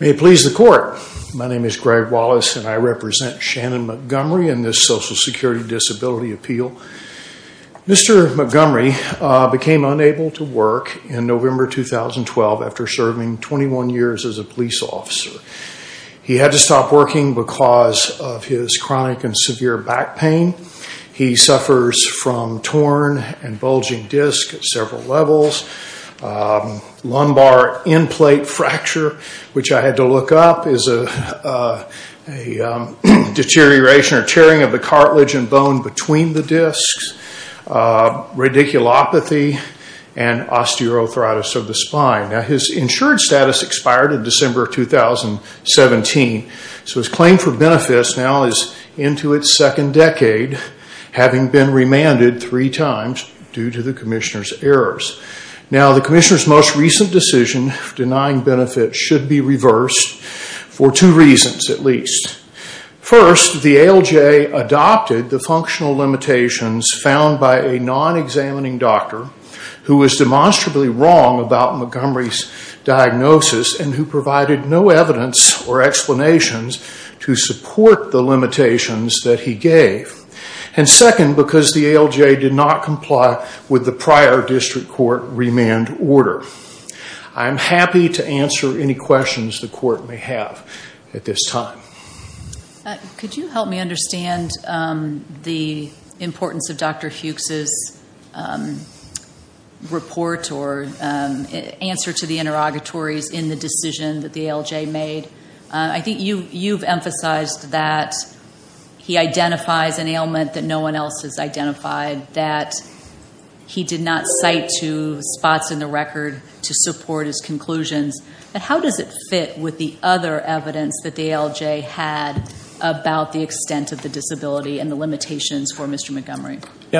May it please the court, my name is Greg Wallace and I represent Shannon Montgomery in this Social Security Disability Appeal. Mr. Montgomery became unable to work in November 2012 after serving 21 years as a police officer. He had to stop working because of his chronic and severe back pain. He suffers from torn and bulging discs at several levels, lumbar end plate fracture, which I had to look up, is a deterioration or tearing of the cartilage and bone between the discs, radiculopathy, and osteoarthritis of the spine. His insured status expired in December 2017, so his claim for benefits now is into its second decade, having been remanded three times due to the Commissioner's errors. The Commissioner's most recent decision denying benefits should be reversed for two reasons at least. First, the ALJ adopted the functional limitations found by a non-examining doctor who was demonstrably wrong about Montgomery's diagnosis and who provided no evidence or explanations to support the limitations that he gave. And second, because the ALJ did not comply with the prior district court remand order. I am happy to answer any questions the court may have at this time. Could you help me understand the importance of Dr. Fuchs's report or answer to the interrogatories in the decision that the ALJ made? I think you've emphasized that he identifies an ailment that no one else has identified, that he did not cite two spots in the record to support his conclusions. How does it fit with the other evidence that the ALJ had about the extent of the disability and the limitations for Mr. Montgomery?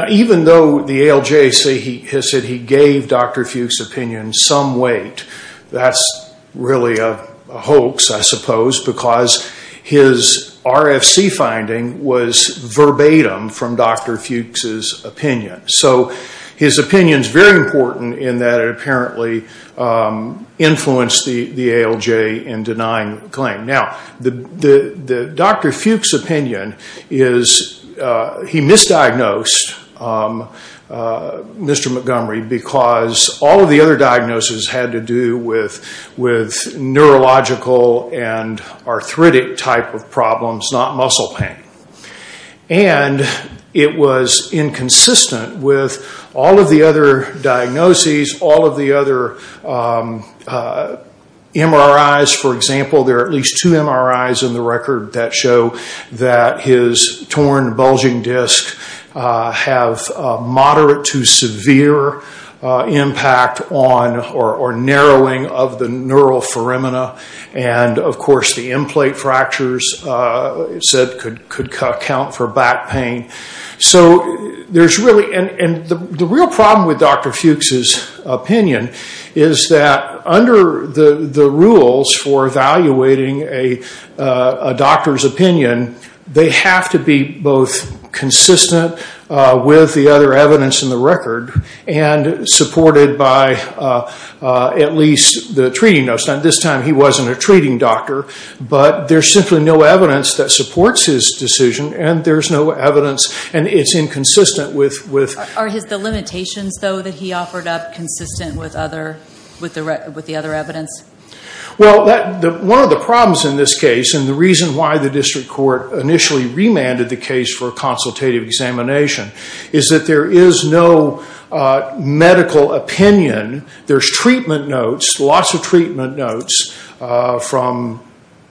Even though the ALJ has said he gave Dr. Fuchs's opinion some weight, that's really a hoax, I suppose, because his RFC finding was verbatim from Dr. Fuchs's opinion. So his opinion is very important in that it apparently influenced the ALJ in denying the claim. Now, Dr. Fuchs's opinion is he misdiagnosed Mr. Montgomery because all of the other diagnoses had to do with neurological and arthritic type of problems, not muscle pain. It was inconsistent with all of the other diagnoses, all of the other MRIs. For example, there are at least two MRIs in the record that show that his torn bulging disc have moderate to severe impact on or narrowing of the neural foramina. Of course, the implant fractures could count for back pain. The real problem with Dr. Fuchs's opinion is that under the rules for evaluating a doctor's opinion, they have to be both consistent with the other evidence in the record and supported by at least the treating notes. Now, at this time, he wasn't a treating doctor, but there's simply no evidence that supports his decision and there's no evidence and it's inconsistent with... Are the limitations, though, that he offered up consistent with the other evidence? Well, one of the problems in this case and the reason why the district court initially remanded the case for a consultative examination is that there is no medical opinion. There's treatment notes, lots of treatment notes from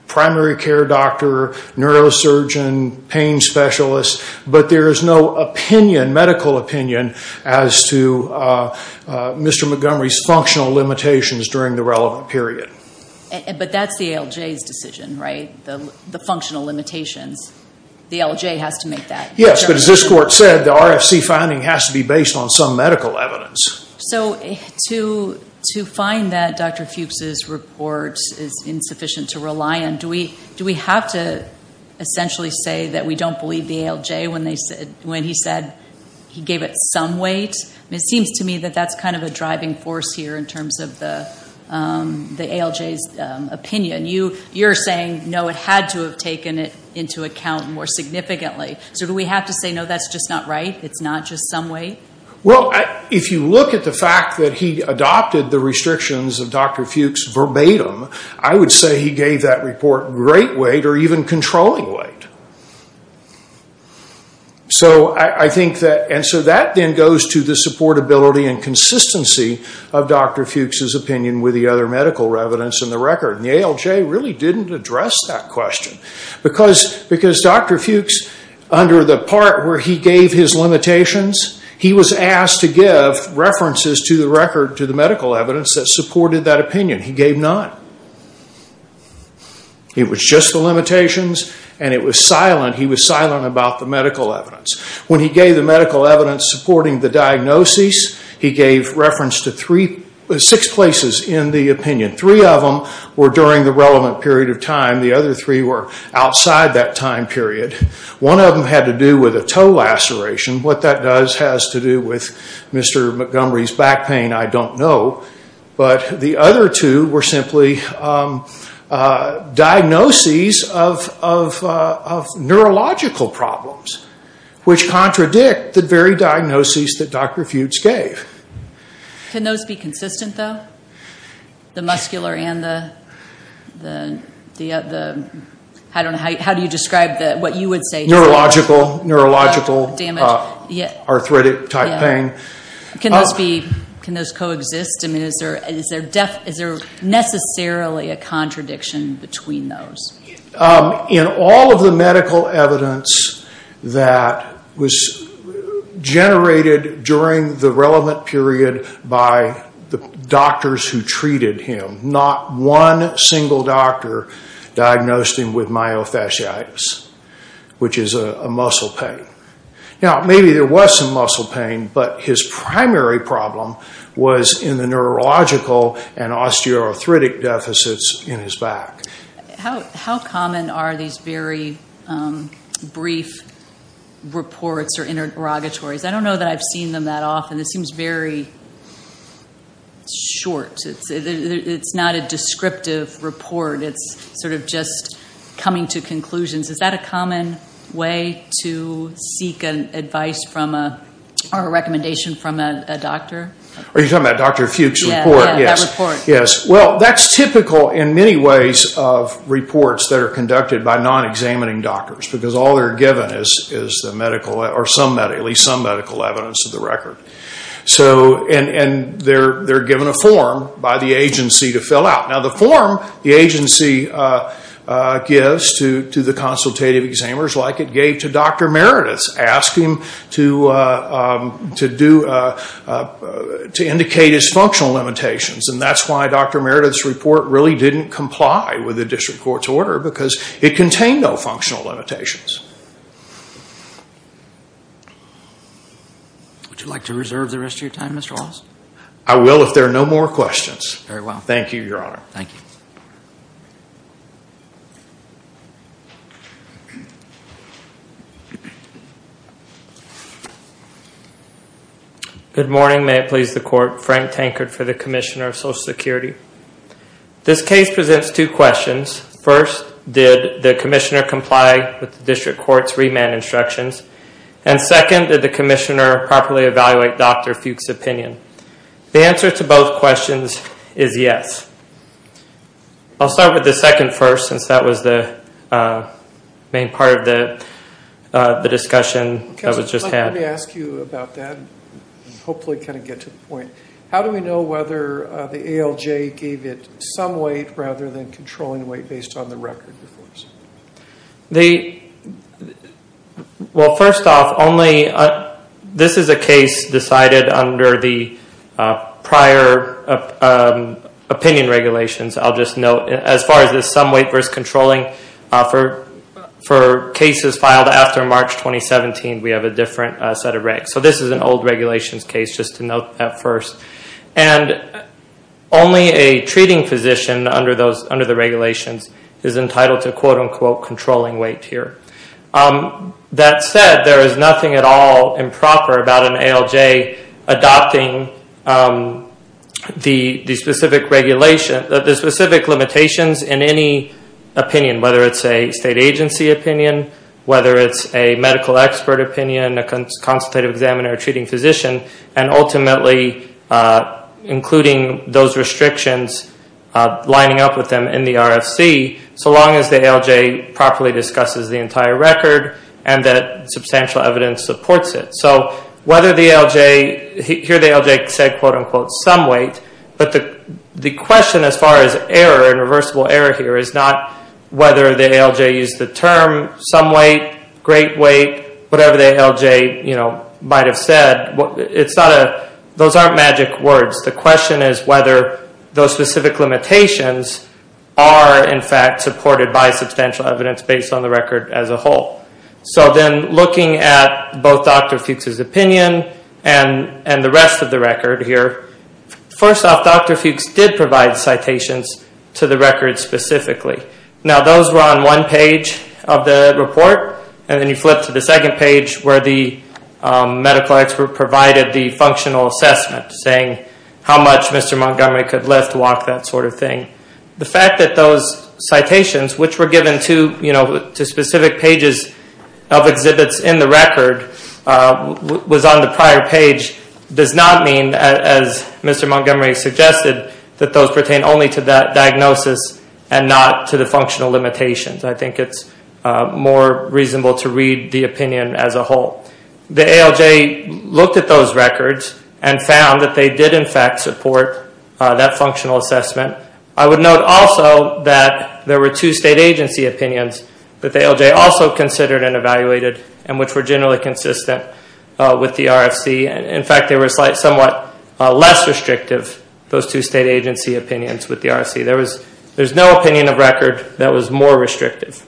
primary care doctor, neurosurgeon, pain specialist, but there is no medical opinion as to Mr. Montgomery's functional limitations during the relevant period. But that's the ALJ's decision, right? The functional limitations. The ALJ has to make that determination. Yes, but as this court said, the RFC finding has to be based on some medical evidence. So to find that Dr. Fuchs's report is insufficient to rely on, do we have to essentially say that we don't believe the ALJ when he said he gave it some weight? It seems to me that that's kind of a driving force here in terms of the ALJ's opinion. You're saying, no, it had to have taken it into account more significantly. So do we have to say, no, that's just not right? It's not just some weight? Well, if you look at the fact that he adopted the restrictions of Dr. Fuchs verbatim, I would say he gave that report great weight or even controlling weight. So I think that... And so that then goes to the supportability and consistency of Dr. Fuchs's opinion with the other medical evidence in the record. And the ALJ really didn't address that question. Because Dr. Fuchs, under the part where he gave his limitations, he was asked to give references to the medical evidence that supported that opinion. He gave none. It was just the limitations and he was silent about the medical evidence. When he gave the medical evidence supporting the diagnoses, he gave reference to six places in the opinion. Three of them were during the relevant period of time. The other three were outside that time period. One of them had to do with a toe laceration. What that does has to do with Mr. Montgomery's back pain, I don't know. But the other two were simply diagnoses of neurological problems, which contradict the very diagnoses that Dr. Fuchs gave. Can those be consistent though? The muscular and the... How do you describe what you would say... Neurological, neurological, arthritic type pain. Can those coexist? Is there necessarily a contradiction between those? In all of the medical evidence that was generated during the relevant period by the doctors who treated him, not one single doctor diagnosed him with myofasciitis, which is a muscle pain. Maybe there was some muscle pain, but his primary problem was in the neurological and osteoarthritic deficits in his back. How common are these very brief reports or interrogatories? I don't know that I've seen them that often. It seems very short. It's not a descriptive report. It's sort of just coming to conclusions. Is that a common way to seek advice or a recommendation from a doctor? Are you talking about Dr. Fuchs' report? Yes. Well, that's typical in many ways of reports that are conducted by non-examining doctors, because all they're given is some medical evidence of the record. And they're given a form by the agency to fill out. Now, the form the agency gives to the consultative examiners, like it gave to Dr. Merediths, asks him to indicate his functional limitations. And that's why Dr. Merediths' report really didn't comply with the district court's order, because it contained no functional limitations. Would you like to reserve the rest of your time, Mr. Wallace? I will if there are no more questions. Very well. Thank you, Your Honor. Thank you. Good morning. May it please the court. Frank Tankard for the Commissioner of Social Security. This case presents two questions. First, did the commissioner comply with the district court's remand instructions? And second, did the commissioner properly evaluate Dr. Fuchs' opinion? The answer to both questions is yes. I'll start with the second first, since that was the main part of the discussion that was just had. Let me ask you about that and hopefully kind of get to the point. How do we know whether the ALJ gave it some weight rather than controlling weight based on the record? Well, first off, this is a case decided under the prior opinion regulations. I'll just note, as far as the some weight versus controlling, for cases filed after March 2017, we have a different set of regs. So this is an old regulations case, just to note that first. And only a treating physician under the regulations is entitled to, quote-unquote, controlling weight here. That said, there is nothing at all improper about an ALJ adopting the specific limitations in any opinion, whether it's a state agency opinion, whether it's a medical expert opinion, a consultative examiner, a treating physician, and ultimately including those restrictions lining up with them in the RFC, so long as the ALJ properly discusses the entire record and that substantial evidence supports it. So here the ALJ said, quote-unquote, some weight. But the question as far as error and reversible error here is not whether the ALJ used the term some weight, great weight, whatever the ALJ might have said, those aren't magic words. The question is whether those specific limitations are in fact supported by substantial evidence based on the record as a whole. So then looking at both Dr. Fuchs' opinion and the rest of the record here, first off, Dr. Fuchs did provide citations to the record specifically. Now those were on one page of the report, and then you flip to the second page where the medical expert provided the functional assessment, saying how much Mr. Montgomery could lift, walk, that sort of thing. The fact that those citations, which were given to specific pages of exhibits in the record, was on the prior page, does not mean, as Mr. Montgomery suggested, that those pertain only to that diagnosis and not to the functional limitations. I think it's more reasonable to read the opinion as a whole. The ALJ looked at those records and found that they did in fact support that functional assessment. I would note also that there were two state agency opinions that the ALJ also considered and evaluated, and which were generally consistent with the RFC. In fact, they were somewhat less restrictive, those two state agency opinions with the RFC. There's no opinion of record that was more restrictive.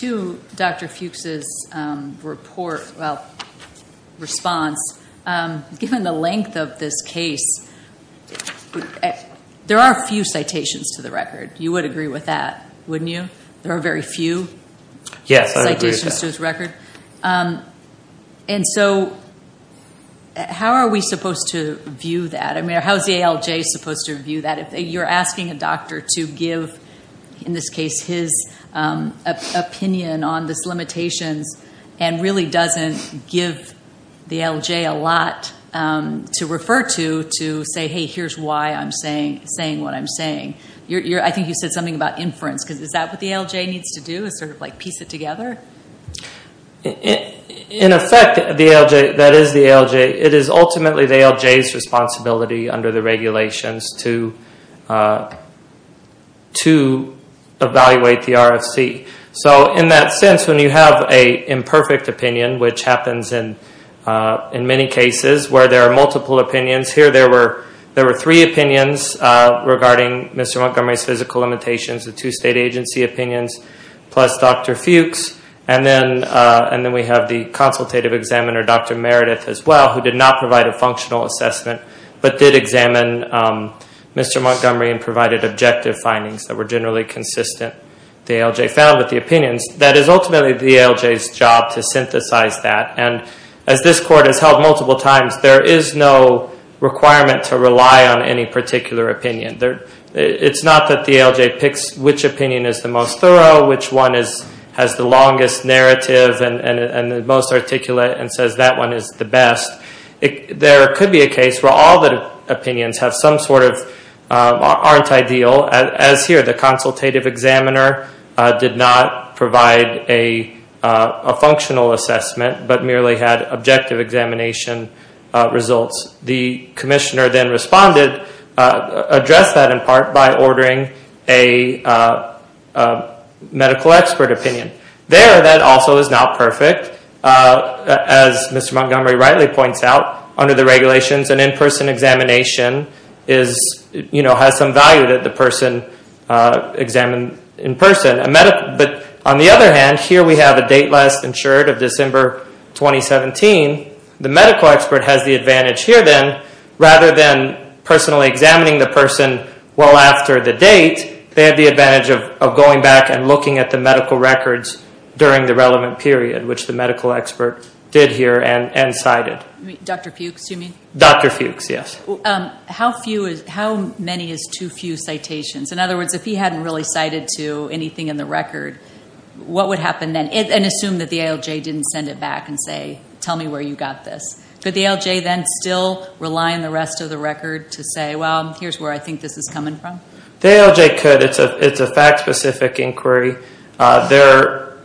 To Dr. Fuchs' response, given the length of this case, there are few citations to the record. You would agree with that, wouldn't you? Yes, I would agree with that. How are we supposed to view that? How is the ALJ supposed to view that? If you're asking a doctor to give, in this case, his opinion on these limitations, and really doesn't give the ALJ a lot to refer to, to say, hey, here's why I'm saying what I'm saying. I think you said something about inference. Is that what the ALJ needs to do, piece it together? In effect, that is the ALJ. It is ultimately the ALJ's responsibility under the regulations to evaluate the RFC. In that sense, when you have an imperfect opinion, which happens in many cases where there are multiple opinions. Here, there were three opinions regarding Mr. Montgomery's physical limitations, the two state agency opinions, plus Dr. Fuchs. And then we have the consultative examiner, Dr. Meredith, as well, who did not provide a functional assessment, but did examine Mr. Montgomery and provided objective findings that were generally consistent, the ALJ found, with the opinions. That is ultimately the ALJ's job to synthesize that. And as this court has held multiple times, there is no requirement to rely on any particular opinion. It's not that the ALJ picks which opinion is the most thorough, which one has the longest narrative and the most articulate and says that one is the best. There could be a case where all the opinions aren't ideal. As here, the consultative examiner did not provide a functional assessment, but merely had objective examination results. The commissioner then responded, addressed that in part by ordering a medical expert opinion. There, that also is not perfect. As Mr. Montgomery rightly points out, under the regulations, an in-person examination has some value that the person examined in person. But on the other hand, here we have a date last insured of December 2017. The medical expert has the advantage here then, rather than personally examining the person well after the date, they have the advantage of going back and looking at the medical records during the relevant period, which the medical expert did here and cited. Dr. Fuchs, do you mean? Dr. Fuchs, yes. How many is too few citations? In other words, if he hadn't really cited to anything in the record, what would happen then? And assume that the ALJ didn't send it back and say, tell me where you got this. Could the ALJ then still rely on the rest of the record to say, well, here's where I think this is coming from? The ALJ could. It's a fact-specific inquiry. There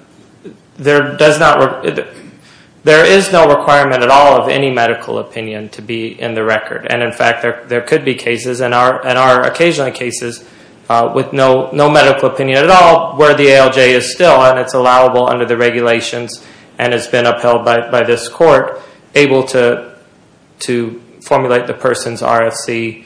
is no requirement at all of any medical opinion to be in the record. And, in fact, there could be cases, and are occasionally cases, with no medical opinion at all, where the ALJ is still, and it's allowable under the regulations and has been upheld by this court, able to formulate the person's RFC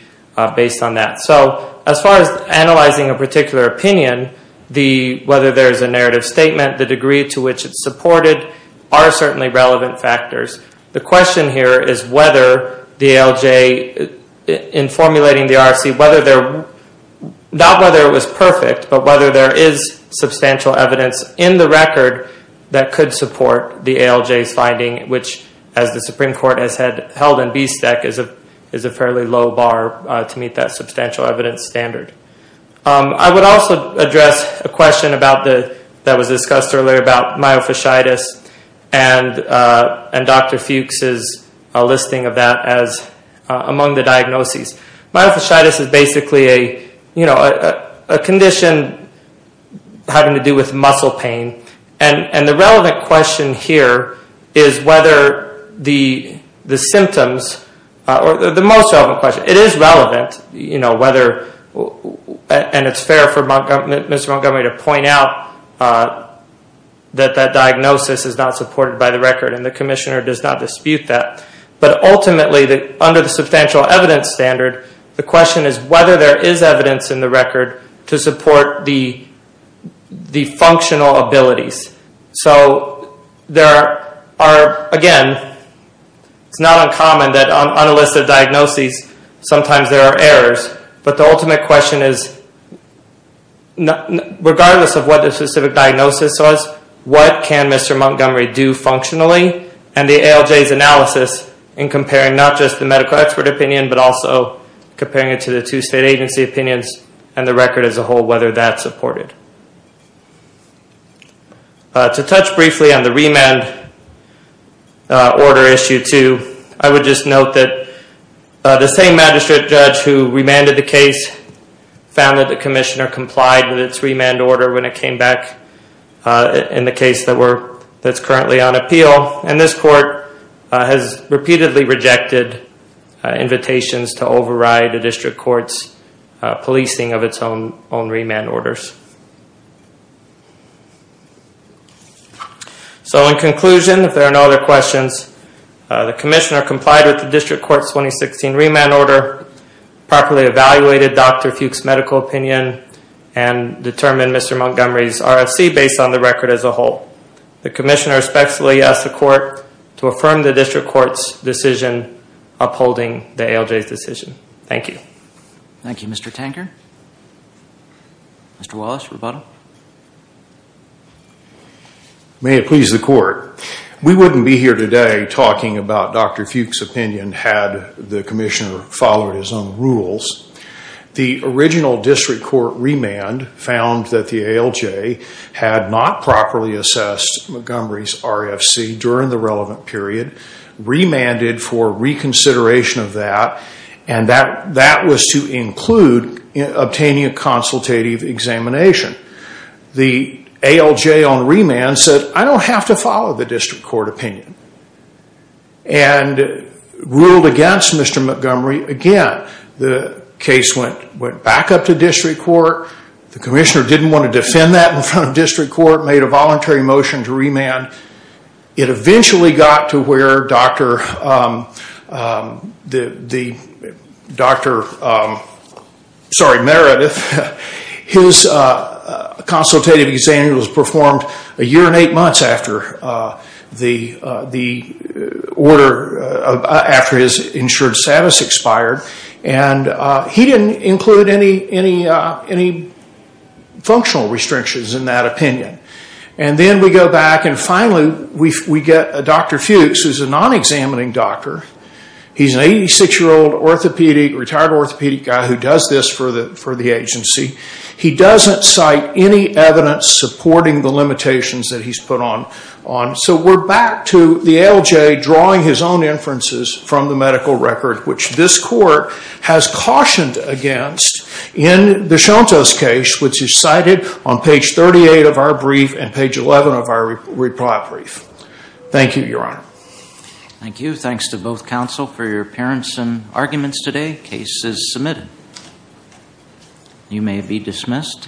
based on that. So as far as analyzing a particular opinion, whether there's a narrative statement, the degree to which it's supported, are certainly relevant factors. The question here is whether the ALJ, in formulating the RFC, whether there, not whether it was perfect, but whether there is substantial evidence in the record that could support the ALJ's finding, which, as the Supreme Court has held in BSTEC, is a fairly low bar to meet that substantial evidence standard. I would also address a question that was discussed earlier about myofasciitis, and Dr. Fuchs's listing of that as among the diagnoses. Myofasciitis is basically a condition having to do with muscle pain, and the relevant question here is whether the symptoms, or the most relevant question, it is relevant, and it's fair for Mr. Montgomery to point out that that diagnosis is not supported by the record, and the Commissioner does not dispute that, but ultimately, under the substantial evidence standard, the question is whether there is evidence in the record to support the functional abilities. So there are, again, it's not uncommon that on a list of diagnoses, sometimes there are errors, but the ultimate question is, regardless of what the specific diagnosis was, what can Mr. Montgomery do functionally? And the ALJ's analysis in comparing not just the medical expert opinion, but also comparing it to the two state agency opinions, and the record as a whole, whether that's supported. To touch briefly on the remand order issue too, I would just note that the same magistrate judge who remanded the case found that the Commissioner complied with its remand order when it came back, in the case that's currently on appeal, and this court has repeatedly rejected invitations to override the District Court's policing of its own remand orders. So in conclusion, if there are no other questions, the Commissioner complied with the District Court's 2016 remand order, properly evaluated Dr. Fuchs' medical opinion, and determined Mr. Montgomery's RFC based on the record as a whole. The Commissioner respectfully asks the Court to affirm the District Court's decision upholding the ALJ's decision. Thank you. Thank you, Mr. Tanker. Mr. Wallace, rebuttal. May it please the Court. We wouldn't be here today talking about Dr. Fuchs' opinion had the Commissioner followed his own rules. The original District Court remand found that the ALJ had not properly assessed Montgomery's RFC during the relevant period, remanded for reconsideration of that, and that was to include obtaining a consultative examination. The ALJ on remand said, I don't have to follow the District Court opinion, and ruled against Mr. Montgomery. Again, the case went back up to District Court. The Commissioner didn't want to defend that in front of District Court, made a voluntary motion to remand. It eventually got to where Dr. sorry, Meredith, his consultative examination was performed a year and eight months after the order, after his insured status expired, and he didn't include any functional restrictions in that opinion. And then we go back and finally we get Dr. Fuchs, who's a non-examining doctor. He's an 86-year-old retired orthopedic guy who does this for the agency. He doesn't cite any evidence supporting the limitations that he's put on. So we're back to the ALJ drawing his own inferences from the medical record, which this court has cautioned against in the Shonto's case, which is cited on page 38 of our brief and page 11 of our reply brief. Thank you, Your Honor. Thank you. Thanks to both counsel for your appearance and arguments today. Case is submitted. You may be dismissed.